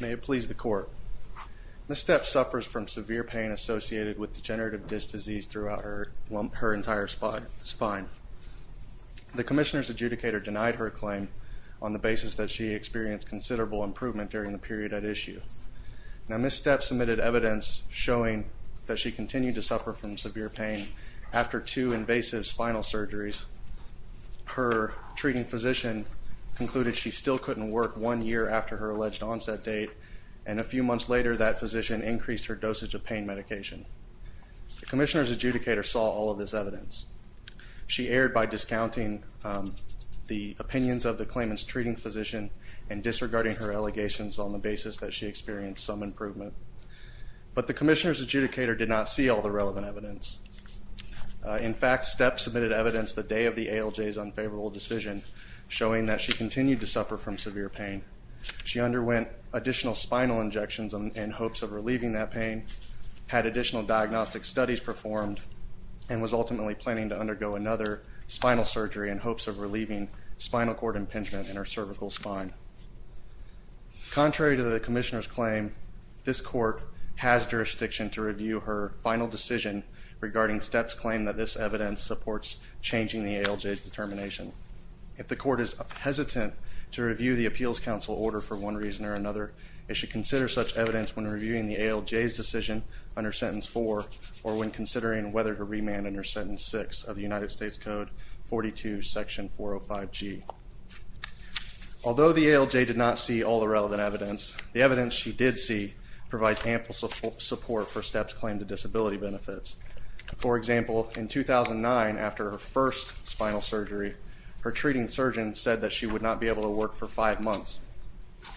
May it please the court. Ms. Stepp suffers from severe pain associated with degenerative disc disease throughout her entire spine. The commissioner's adjudicator denied her claim on the basis that she experienced considerable improvement during the period at issue. Now Ms. Stepp submitted evidence showing that she continued to suffer from severe pain after two invasive spinal surgeries. Her treating physician concluded she still couldn't work one year after her alleged onset date and a few months later that physician increased her dosage of pain medication. The commissioner's adjudicator saw all of this evidence. She erred by discounting the opinions of the claimant's treating physician and disregarding her allegations on the basis that she experienced some improvement. But the commissioner's adjudicator did not see all the relevant evidence. In fact Stepp submitted evidence the day of the ALJ's unfavorable decision showing that she continued to suffer from severe pain. She underwent additional spinal injections in hopes of relieving that pain, had additional diagnostic studies performed, and was ultimately planning to undergo another spinal surgery in hopes of relieving spinal cord impingement in her cervical spine. Contrary to the commissioner's claim, this court has jurisdiction to review her final decision regarding Stepp's claim that this evidence supports changing the ALJ's intent to review the Appeals Council order for one reason or another. It should consider such evidence when reviewing the ALJ's decision under sentence 4 or when considering whether to remand under sentence 6 of the United States Code 42 section 405 G. Although the ALJ did not see all the relevant evidence, the evidence she did see provides ample support for Stepp's claim to disability benefits. For example, in 2009 after her first spinal surgery her treating surgeon said that she would not be able to work for five months.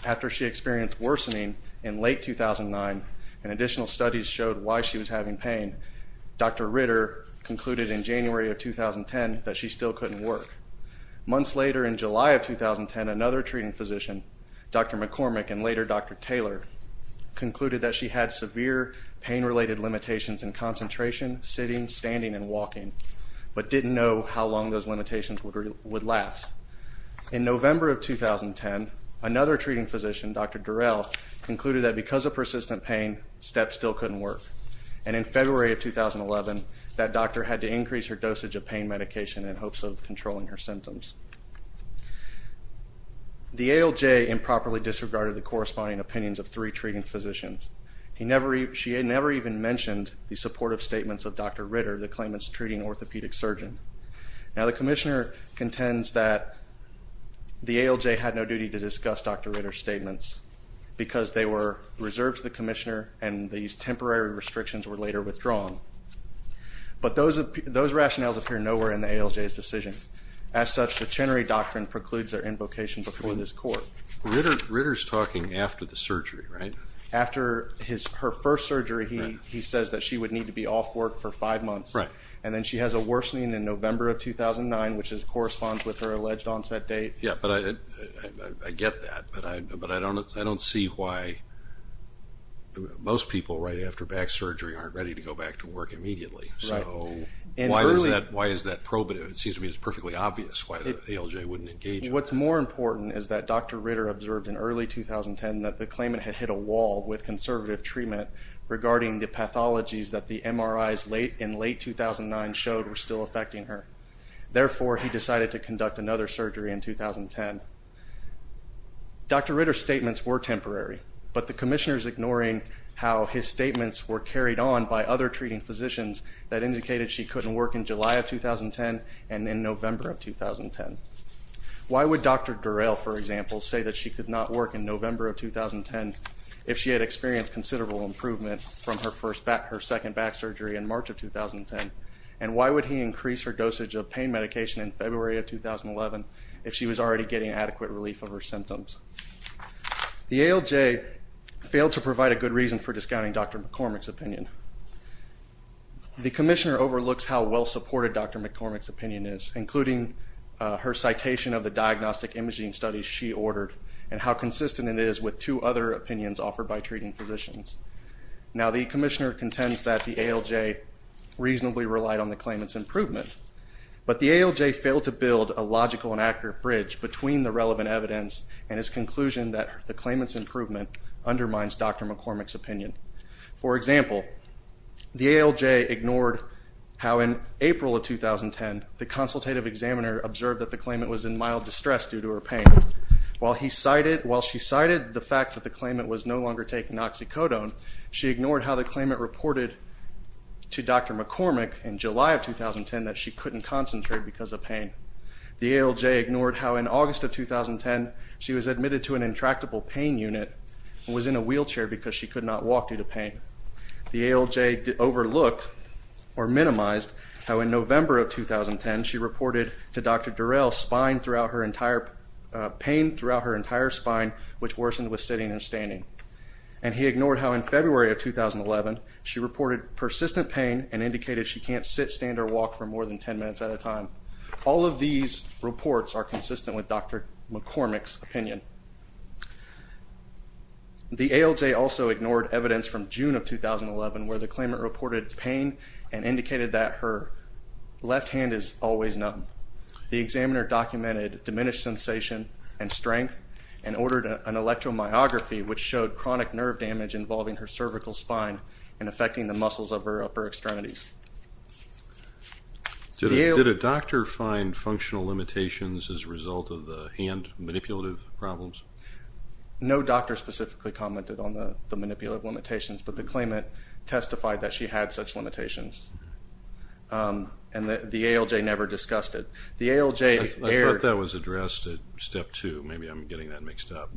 After she experienced worsening in late 2009 and additional studies showed why she was having pain, Dr. Ritter concluded in January of 2010 that she still couldn't work. Months later in July of 2010 another treating physician, Dr. McCormick and later Dr. Taylor, concluded that she had severe pain related limitations in concentration, sitting, standing, and walking, but didn't know how long those limitations would last. In November of 2010 another treating physician, Dr. Durrell, concluded that because of persistent pain Stepp still couldn't work, and in February of 2011 that doctor had to increase her dosage of pain medication in hopes of controlling her symptoms. The ALJ improperly disregarded the corresponding opinions of three treating physicians. She never even mentioned the supportive statements of Dr. Ritter that claim it's treating orthopedic surgeon. Now the Commissioner contends that the ALJ had no duty to discuss Dr. Ritter's statements because they were reserved to the Commissioner and these temporary restrictions were later withdrawn, but those of those rationales appear nowhere in the ALJ's decision. As such, the Chenery Doctrine precludes their invocation before this court. Ritter's talking after the surgery, right? After her first surgery he says that she would need to be off work for five months. Right. And then she has a worsening in November of 2009 which corresponds with her alleged onset date. Yeah, but I get that, but I don't see why most people right after back surgery aren't ready to go back to work immediately. So why is that probative? It seems to me it's perfectly obvious why the ALJ wouldn't engage. What's more important is that Dr. Ritter observed in early 2010 that the claimant had hit a wall with conservative treatment regarding the pathologies that the MRIs in late 2009 showed were still affecting her. Therefore, he decided to conduct another surgery in 2010. Dr. Ritter's statements were temporary, but the Commissioner's ignoring how his statements were carried on by other treating physicians that indicated she couldn't work in July of 2010 and in November of 2010. Why would Dr. Durrell, for example, say that she could not work in November of 2010 if she had experienced considerable improvement from her first back, her second back surgery in March of 2010? And why would he increase her dosage of pain medication in February of 2011 if she was already getting adequate relief of her symptoms? The ALJ failed to provide a good reason for discounting Dr. McCormick's opinion. The Commissioner overlooks how well-supported Dr. McCormick's opinion is, including her consistent it is with two other opinions offered by treating physicians. Now the Commissioner contends that the ALJ reasonably relied on the claimant's improvement, but the ALJ failed to build a logical and accurate bridge between the relevant evidence and his conclusion that the claimant's improvement undermines Dr. McCormick's opinion. For example, the ALJ ignored how in April of 2010 the consultative examiner observed that the claimant was in mild distress due to her pain. While she cited the fact that the claimant was no longer taking oxycodone, she ignored how the claimant reported to Dr. McCormick in July of 2010 that she couldn't concentrate because of pain. The ALJ ignored how in August of 2010 she was admitted to an intractable pain unit and was in a wheelchair because she could not walk due to pain. The ALJ overlooked or minimized how in November of 2010 she reported to Dr. Durrell pain throughout her entire spine, which worsened with sitting and standing. And he ignored how in February of 2011 she reported persistent pain and indicated she can't sit, stand, or walk for more than 10 minutes at a time. All of these reports are consistent with Dr. McCormick's opinion. The ALJ also ignored evidence from June of 2011 where the claimant reported pain and indicated that her left hand is always numb. The examiner documented diminished sensation and strength and ordered an electromyography which showed chronic nerve damage involving her cervical spine and affecting the muscles of her upper extremities. Did a doctor find functional limitations as a result of the hand manipulative problems? No doctor specifically commented on the manipulative limitations, but the claimant testified that she had such limitations. And the ALJ never discussed it. The ALJ... I thought that was addressed at step 2. Maybe I'm getting that mixed up.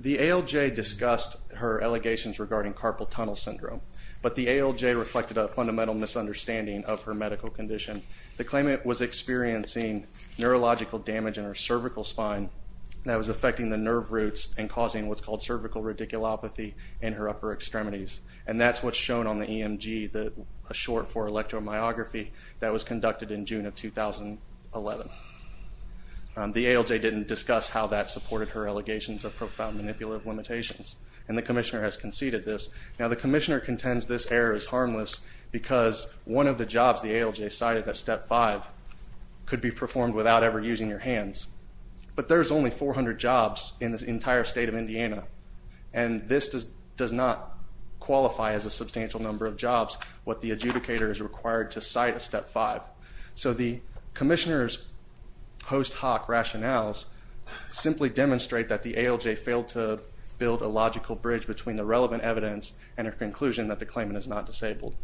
The ALJ discussed her allegations regarding carpal tunnel syndrome, but the ALJ reflected a fundamental misunderstanding of her medical condition. The claimant was experiencing neurological damage in her cervical spine that was affecting the nerve roots and causing what's called cervical radiculopathy in her upper extremities. And that's what's on the EMG, a short for electromyography that was conducted in June of 2011. The ALJ didn't discuss how that supported her allegations of profound manipulative limitations and the Commissioner has conceded this. Now the Commissioner contends this error is harmless because one of the jobs the ALJ cited at step 5 could be performed without ever using your hands, but there's only 400 jobs in this entire state of Indiana and this does not qualify as a substantial number of jobs what the adjudicator is required to cite at step 5. So the Commissioner's post hoc rationales simply demonstrate that the ALJ failed to build a logical bridge between the relevant evidence and her conclusion that the claimant is not disabled.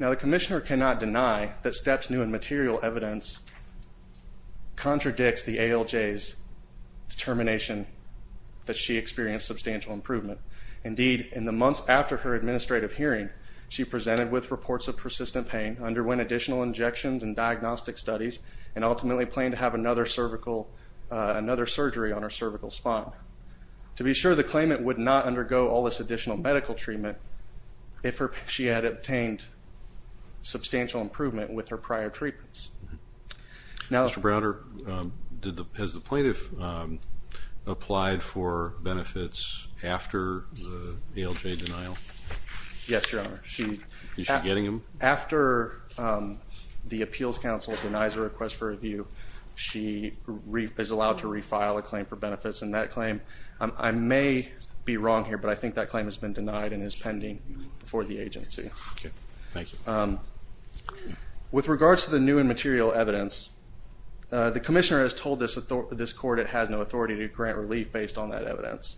Now the Commissioner cannot deny that steps new in material evidence contradicts the ALJ's determination that she experienced substantial improvement. Indeed, in the months after her administrative hearing, she presented with reports of persistent pain, underwent additional injections and diagnostic studies, and ultimately planned to have another cervical, another surgery on her cervical spine. To be sure, the claimant would not undergo all this additional medical treatment if she had obtained substantial improvement with her prior treatments. Now... Mr. Browder, did the, has she received the benefits after the ALJ denial? Yes, Your Honor. Is she getting them? After the appeals counsel denies a request for review, she is allowed to refile a claim for benefits and that claim, I may be wrong here, but I think that claim has been denied and is pending before the agency. Okay, thank you. With regards to the new and material evidence, the Commissioner has told this court it has no evidence,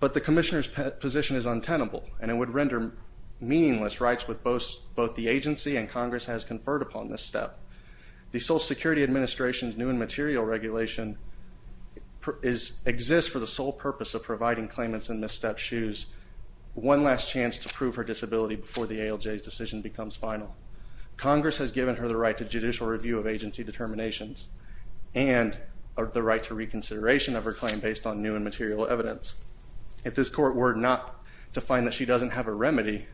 but the Commissioner's position is untenable and it would render meaningless rights with both the agency and Congress has conferred upon this step. The Social Security Administration's new and material regulation exists for the sole purpose of providing claimants in misstep shoes one last chance to prove her disability before the ALJ's decision becomes final. Congress has given her the right to judicial review of agency determinations and the right to reconsideration of her claim based on new and material evidence. If this court were not to find that she doesn't have a remedy,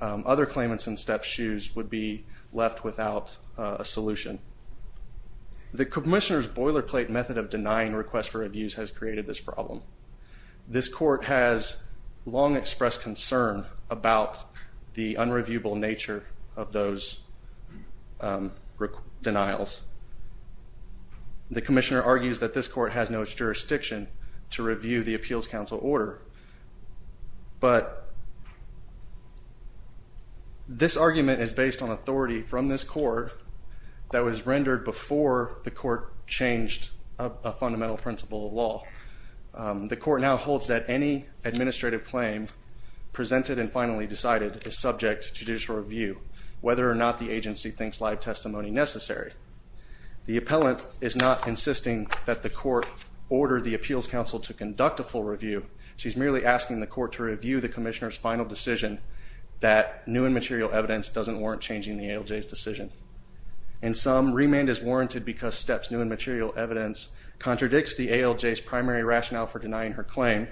other claimants in step shoes would be left without a solution. The Commissioner's boilerplate method of denying requests for reviews has created this problem. This court has long expressed concern about the unreviewable nature of those denials. The Commissioner argues that this court has no jurisdiction to review the Appeals Council order, but this argument is based on authority from this court that was rendered before the court changed a fundamental principle of law. The court now holds that any administrative claim presented and finally decided is subject to judicial review, whether or not the agency thinks live testimony necessary. The appellant is not insisting that the Appeals Council to conduct a full review. She's merely asking the court to review the Commissioner's final decision that new and material evidence doesn't warrant changing the ALJ's decision. In sum, remand is warranted because steps new and material evidence contradicts the ALJ's primary rationale for denying her claim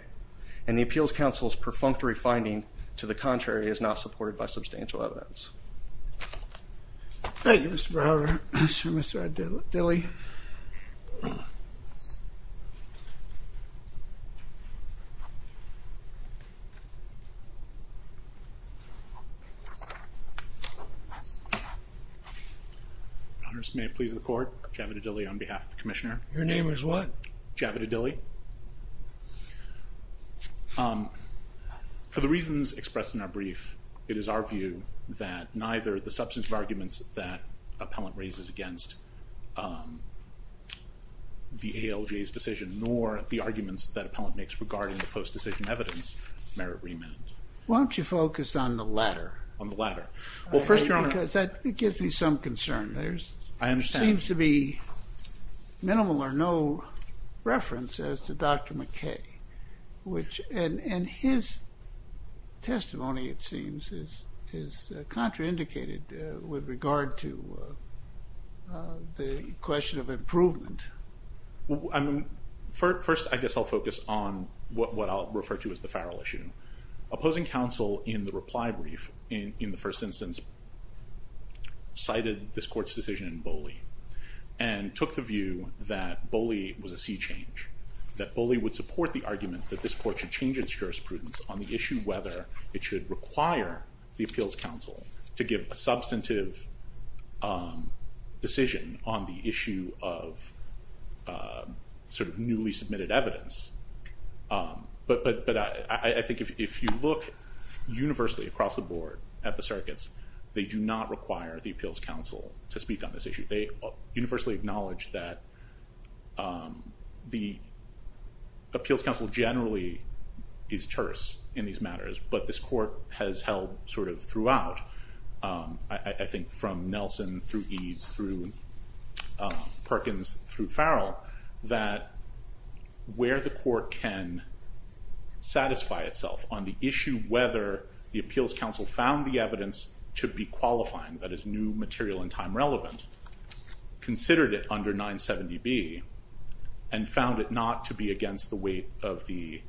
and the Appeals Council's perfunctory finding to the contrary is supported by substantial evidence. Thank you Mr. Browder. Mr. Javita Dilley. May it please the court, Javita Dilley on behalf of the Commissioner. Your name is Javita Dilley. For the reasons expressed in our brief, it is our view that neither the substance of arguments that appellant raises against the ALJ's decision nor the arguments that appellant makes regarding the post decision evidence merit remand. Why don't you focus on the latter? On the latter. Well first, Your Honor. Because that gives me some concern. There seems to be minimal or no reference as to Dr. McKay, which and his testimony it seems is contraindicated with regard to the question of improvement. I mean first I guess I'll focus on what I'll refer to as the Farrell issue. Opposing counsel in the reply brief in the first instance cited this court's decision in Bolli and took the view that Bolli was a sea change. That Bolli would support the argument that this court should change its jurisprudence on the issue whether it should require the Appeals Council to give a substantive decision on the issue of sort of newly submitted evidence. But I think if you look universally across the board at the circuits, they do not require the Appeals Council to speak on this issue. They universally acknowledge that the Appeals Council generally is terse in these matters, but this court has held sort of throughout, I think from Nelson through Eades through Perkins through Farrell, that where the court can satisfy itself on the issue whether the Appeals Council found the considered it under 970B and found it not to be against the weight of the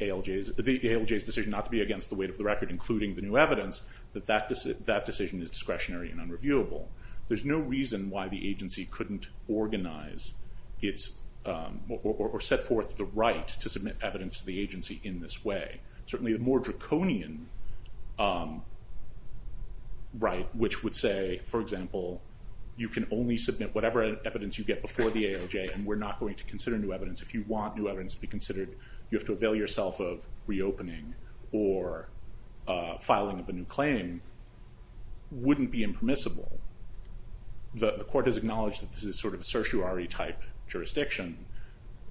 ALJ's decision not to be against the weight of the record including the new evidence, that that decision is discretionary and unreviewable. There's no reason why the agency couldn't organize its or set forth the right to submit evidence to the agency in this way. Certainly a more draconian right which would say, for example, you can only submit whatever evidence you get before the ALJ and we're not going to consider new evidence. If you want new evidence to be considered, you have to avail yourself of reopening or filing of a new claim wouldn't be impermissible. The court has acknowledged that this is sort of a certiorari type jurisdiction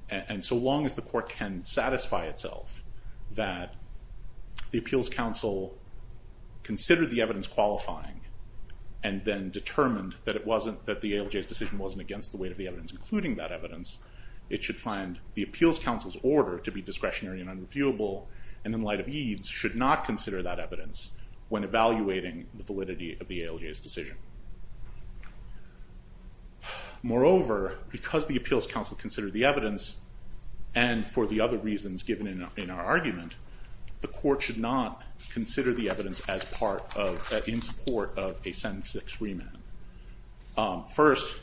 and so long as the court can satisfy itself that the and then determined that it wasn't that the ALJ's decision wasn't against the weight of the evidence including that evidence, it should find the Appeals Council's order to be discretionary and unreviewable and in light of Eades should not consider that evidence when evaluating the validity of the ALJ's decision. Moreover, because the Appeals Council considered the evidence and for the other reasons given in our argument, the court should not consider the Sentence 6 Remand. First,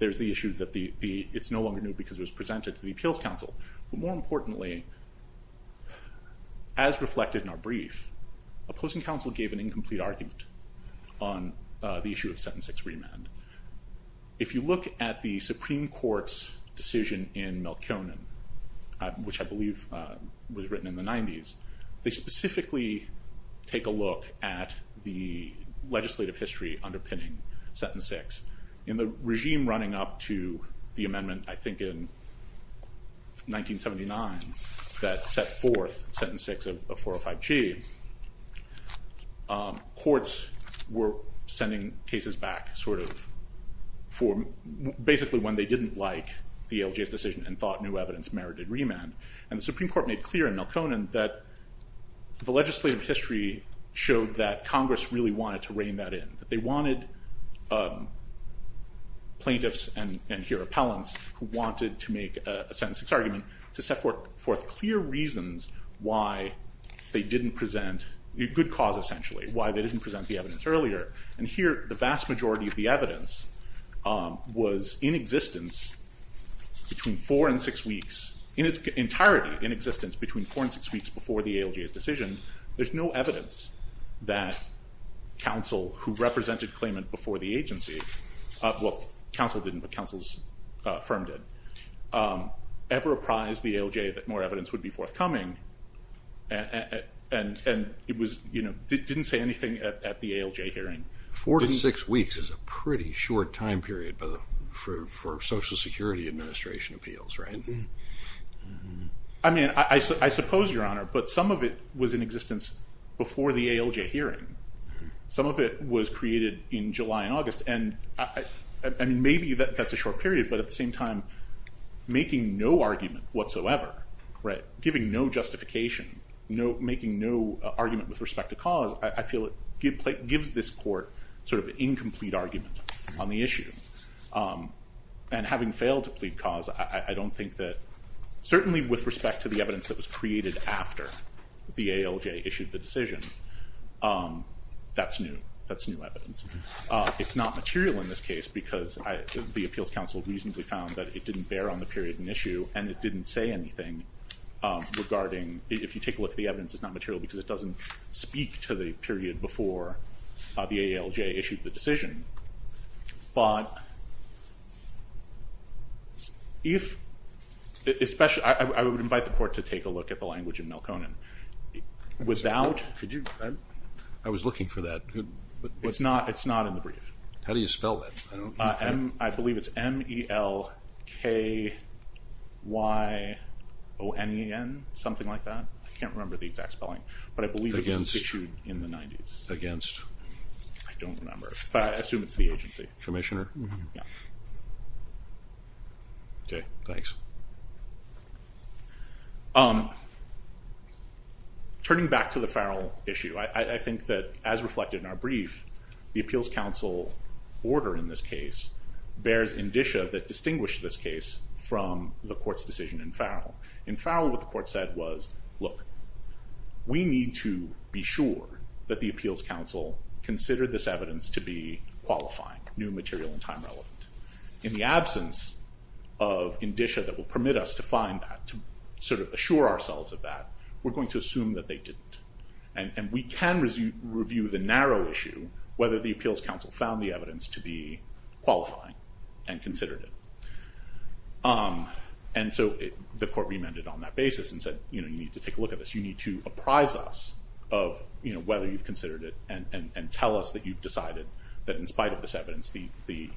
there's the issue that the it's no longer new because it was presented to the Appeals Council. More importantly, as reflected in our brief, opposing counsel gave an incomplete argument on the issue of Sentence 6 Remand. If you look at the Supreme Court's decision in Melkonen, which I believe was written in the 90s, they specifically take a look at the legislative history underpinning Sentence 6. In the regime running up to the amendment, I think in 1979, that set forth Sentence 6 of 405G, courts were sending cases back sort of for basically when they didn't like the ALJ's decision and thought new evidence merited remand and the Supreme Court made clear in Melkonen that the legislative history showed that Congress really wanted to rein that in. They wanted plaintiffs and here appellants who wanted to make a Sentence 6 argument to set forth clear reasons why they didn't present, a good cause essentially, why they didn't present the evidence earlier. And here the vast majority of the evidence was in existence between four and six weeks, in its entirety in existence between four and six weeks before the ALJ's decision. There's no evidence that counsel who represented claimant before the agency, well counsel didn't, but counsel's firm did, ever apprised the ALJ that more evidence would be forthcoming and it was, you know, didn't say anything at the ALJ hearing. Four to six weeks is a pretty short time period for Social Security Administration appeals, right? I mean, I suppose, Your Honor, but some of it was in existence before the ALJ hearing. Some of it was created in July and August and, I mean, maybe that's a short period, but at the same time making no argument whatsoever, right, giving no justification, no, making no argument with respect to cause, I feel it gives this court sort of incomplete argument on the issue. And having failed to plead cause, I don't think that, certainly with respect to the evidence that was created after the ALJ issued the decision, that's new. That's new evidence. It's not material in this case because the appeals counsel reasonably found that it didn't bear on the period and issue and it didn't say anything regarding, if you take a look at the evidence, it's not material because it doesn't speak to the period before the I invite the court to take a look at the language of Melkonen. Without... I was looking for that. It's not in the brief. How do you spell that? I believe it's M-E-L-K-Y-O-N-E-N, something like that. I can't remember the exact spelling, but I believe it was issued in the 90s. Against. I don't remember, but I assume it's the agency. Commissioner? Okay, thanks. Turning back to the Farrell issue, I think that, as reflected in our brief, the appeals counsel order in this case bears indicia that distinguish this case from the court's decision in Farrell. In Farrell, what the court said was, look, we need to be sure that the appeals counsel considered this evidence to be qualifying, new material and time relevant. In the absence of indicia that will permit us to find that, to sort of assure ourselves of that, we're going to assume that they didn't. And we can review the narrow issue, whether the appeals counsel found the evidence to be qualifying and considered it. And so the court remanded on that basis and said, you know, you need to take a look at this. You need to apprise us of, you know, whether you've considered it and tell us that you've decided that, in spite of this evidence, the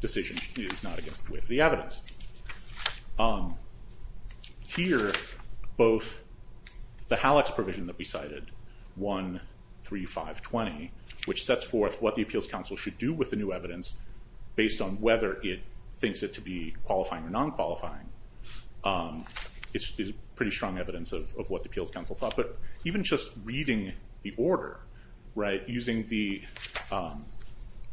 decision is not against the weight of the evidence. Here, both the Halleck's provision that we cited, 1, 3, 5, 20, which sets forth what the appeals counsel should do with the new evidence based on whether it thinks it to be qualifying or non-qualifying, is pretty strong evidence of what the appeals counsel thought. But even just reading the order, right, using the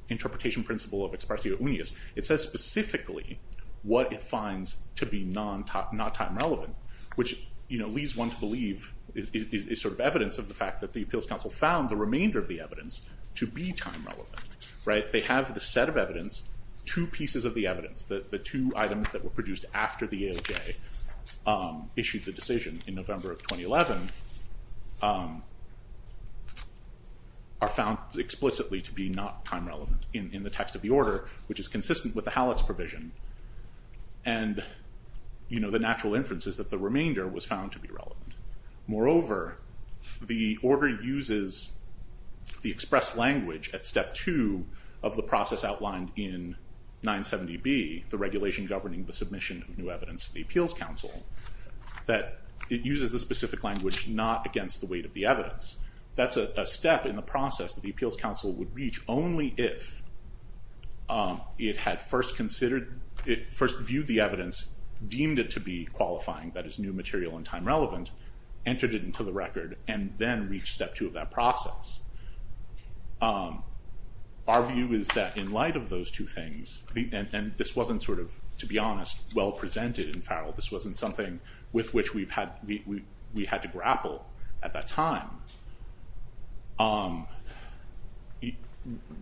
interpretation principle of ex partio unius, it says specifically what it finds to be non-time relevant, which, you know, leads one to believe is sort of evidence of the fact that the appeals counsel found the remainder of the evidence to be time relevant, right? They have the set of evidence, two pieces of the evidence, the two items that were issued the decision in November of 2011, are found explicitly to be not time relevant in the text of the order, which is consistent with the Halleck's provision. And, you know, the natural inference is that the remainder was found to be relevant. Moreover, the order uses the expressed language at step two of the process outlined in 970B, the regulation governing the submission of evidence to the appeals counsel, that it uses the specific language not against the weight of the evidence. That's a step in the process that the appeals counsel would reach only if it had first considered, it first viewed the evidence, deemed it to be qualifying, that is new material and time relevant, entered it into the record, and then reached step two of that process. Our view is that in light of those two things, and this wasn't sort of, to be honest, well presented in Farrell, this wasn't something with which we've had, we had to grapple at that time,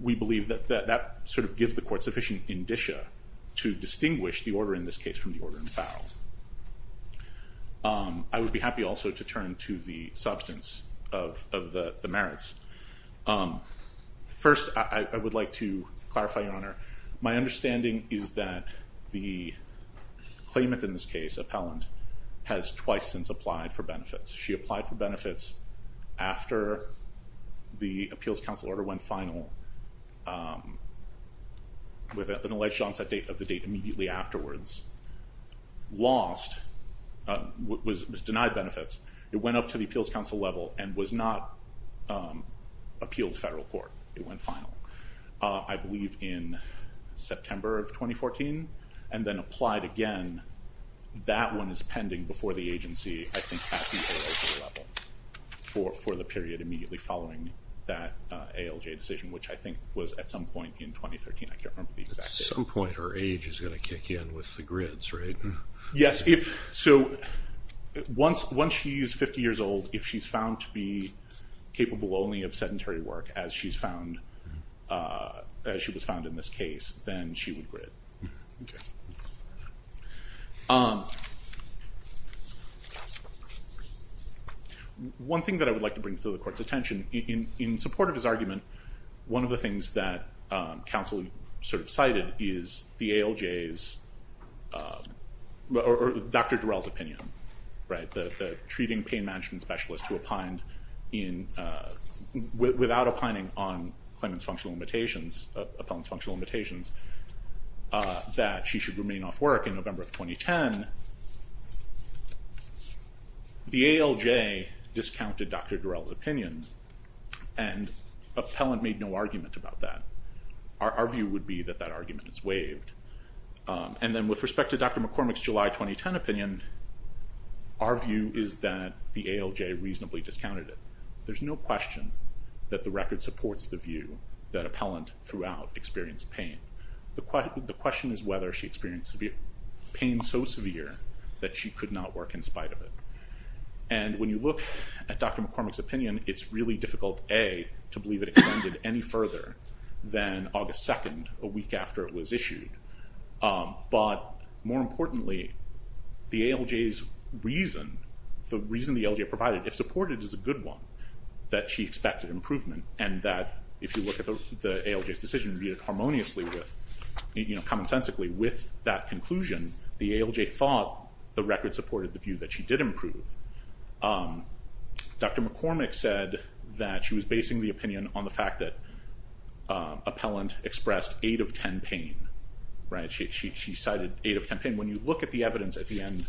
we believe that that sort of gives the court sufficient indicia to distinguish the order in this case from the order in Farrell. I would be happy also to turn to the substance of the merits. First, I would like to claim it in this case, Appellant has twice since applied for benefits. She applied for benefits after the appeals counsel order went final with an alleged onset date of the date immediately afterwards. Lost, was denied benefits, it went up to the appeals counsel level and was not appealed to federal court. It went final, I believe in September of 2014, and then applied again, that one is pending before the agency, I think at the ALJ level, for the period immediately following that ALJ decision, which I think was at some point in 2013, I can't remember the exact date. At some point her age is gonna kick in with the grids, right? Yes, if, so once she's 50 years old, if she's found to be capable only of sedentary work as she was found in this case, then she would grid. One thing that I would like to bring to the court's attention, in support of his argument, one of the things that counsel sort of cited is the ALJ's, or Dr. Durell's opinion, right? The treating pain management specialist who without opining on Clemens' functional limitations, Appellant's functional limitations, that she should remain off work in November of 2010, the ALJ discounted Dr. Durell's opinion and Appellant made no argument about that. Our view would be that that argument is waived, and then with respect to Dr. McCormick's July 2010 opinion, our view is that the ALJ reasonably discounted it. There's no question that the record supports the view that Appellant, throughout, experienced pain. The question is whether she experienced pain so severe that she could not work in spite of it. And when you look at Dr. McCormick's opinion, it's really difficult, A, to believe it extended any further than August 2nd, a week after it was issued. But more importantly, the ALJ's reason, the reason the ALJ provided, if supported, is a good one. That she expected improvement, and that if you look at the ALJ's decision, viewed it harmoniously with, you know, commonsensically with that conclusion, the ALJ thought the record supported the view that she did improve. Dr. McCormick said that she was basing the opinion on the fact that Appellant expressed 8 of 10 pain, right? She cited 8 of 10 pain. And when you look at the evidence at the end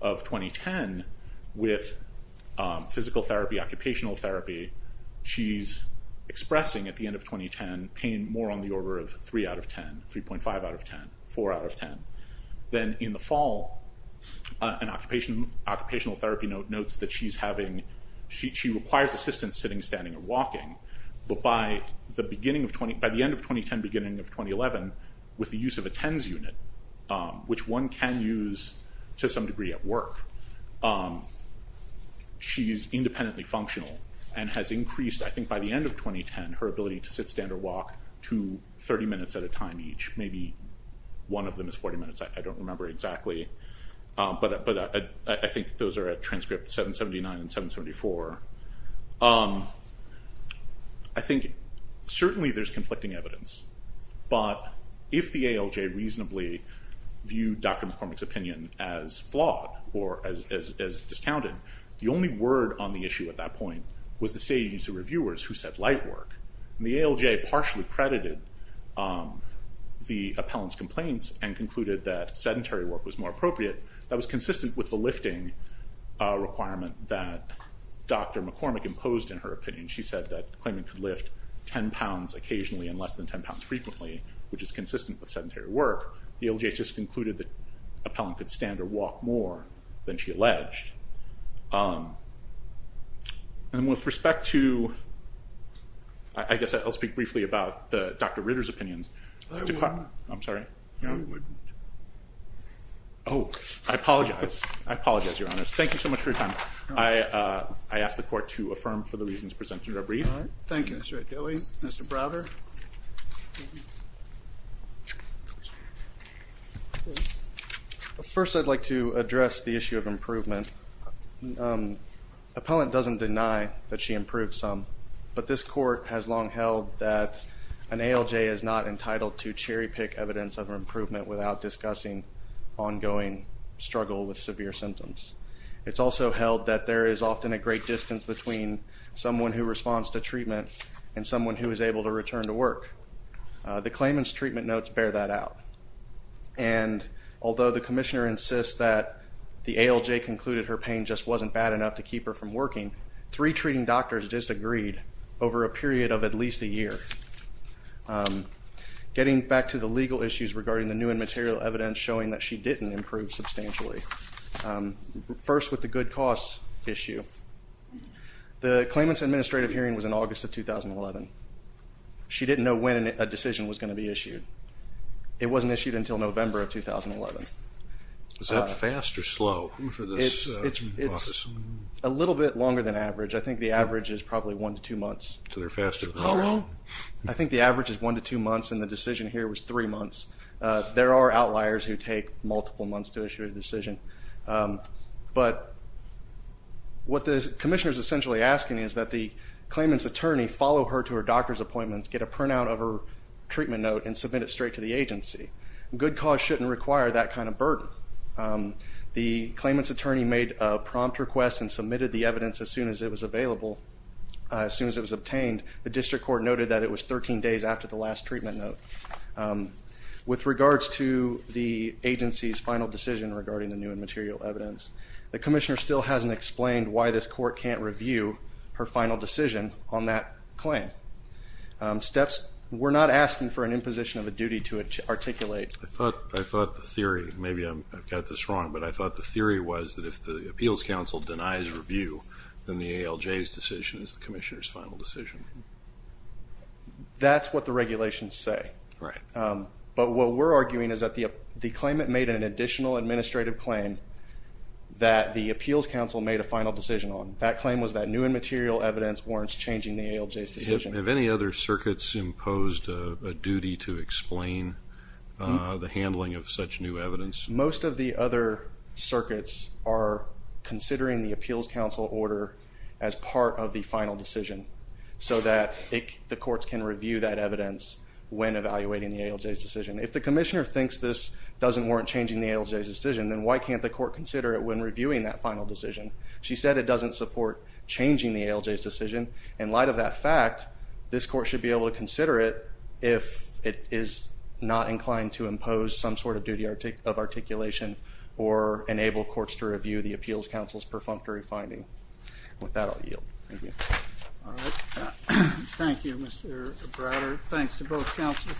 of 2010, with physical therapy, occupational therapy, she's expressing, at the end of 2010, pain more on the order of 3 out of 10, 3.5 out of 10, 4 out of 10. Then in the fall, an occupational therapy note notes that she's having, she requires assistance sitting, standing, or walking. But by the beginning of, by the end of 2010, beginning of 2011, with the use of a TENS unit, which one can use to some degree at work, she's independently functional, and has increased, I think by the end of 2010, her ability to sit, stand, or walk to 30 minutes at a time each. Maybe one of them is 40 minutes, I don't remember exactly, but I think those are at transcript 779 and 774. I think certainly there's conflicting evidence, but if the ALJ reasonably viewed Dr. McCormick's opinion as flawed, or as discounted, the only word on the issue at that point was the state agency reviewers who said light work. The ALJ partially credited the appellant's complaints and concluded that sedentary work was more appropriate. That was consistent with the lifting requirement that Dr. McCormick imposed in her opinion. She said that claiming to lift 10 pounds occasionally and less than 10 pounds frequently, which is consistent with sedentary work. The ALJ just concluded that the appellant could stand or walk more than she alleged. And with respect to, I guess I'll speak briefly about Dr. Ritter's opinions. I'm sorry. I apologize. I apologize, Your Honors. Thank you so much for your time. I ask the court to affirm for the reasons presented are brief. All right. Thank you, Mr. Akele, Mr. Browder. First, I'd like to address the issue of improvement. Appellant doesn't deny that she improved some, but this court has long held that an ALJ is not entitled to cherry pick evidence of improvement without discussing ongoing struggle with severe symptoms. It's also held that there is often a great distance between someone who responds to treatment and someone who is able to return to work. The claimant's treatment notes bear that out. And although the commissioner insists that the ALJ concluded her pain just wasn't bad enough to keep her from working, three treating doctors disagreed over a period of at least a year. Getting back to the legal issues regarding the new and material evidence showing that she didn't improve substantially, first with the good costs issue, the claimant's administrative hearing was in August of 2011. She didn't know when a decision was going to be issued. It wasn't issued until November of 2011. Is that fast or slow? It's a little bit longer than average. I think the average is probably one to two months. I think the average is one to two months and the decision here was three months. There are outliers who take multiple months to issue a decision. But what the commissioner is essentially asking is that the claimant's attorney follow her to her doctor's appointments, get a printout of her treatment note, and submit it straight to the agency. Good cause shouldn't require that kind of burden. The claimant's attorney made a prompt request and submitted the evidence as soon as it was available, as soon as it was obtained. The district court noted that it was 13 days after the last treatment note. With regards to the agency's final decision regarding the new and material evidence, the commissioner still hasn't explained why this court can't review her final decision on that claim. We're not asking for an imposition of a duty to articulate. I thought the theory, maybe I've got this wrong, but I thought the theory was that if the appeals council denies review, then the ALJ's decision is the commissioner's final decision. That's what the regulations say. Right. But what we're arguing is that the claimant made an additional administrative claim that the appeals council made a final decision on. That claim was that new and material evidence warrants changing the ALJ's decision. Have any other circuits imposed a duty to explain the handling of such new evidence? Most of the other circuits are considering the appeals council order as part of the final decision so that the courts can review that evidence when evaluating the ALJ's decision. If the commissioner thinks this doesn't warrant changing the ALJ's decision, then why can't the court consider it when reviewing that final decision? She said it doesn't support changing the ALJ's decision. In light of that fact, this court should be able to consider it if it is not inclined to impose some sort of duty of articulation or enable courts to review the appeals council's perfunctory finding. With that, I'll yield. Thank you. All right. Thank you, Mr. Browder. Thanks to both counsel.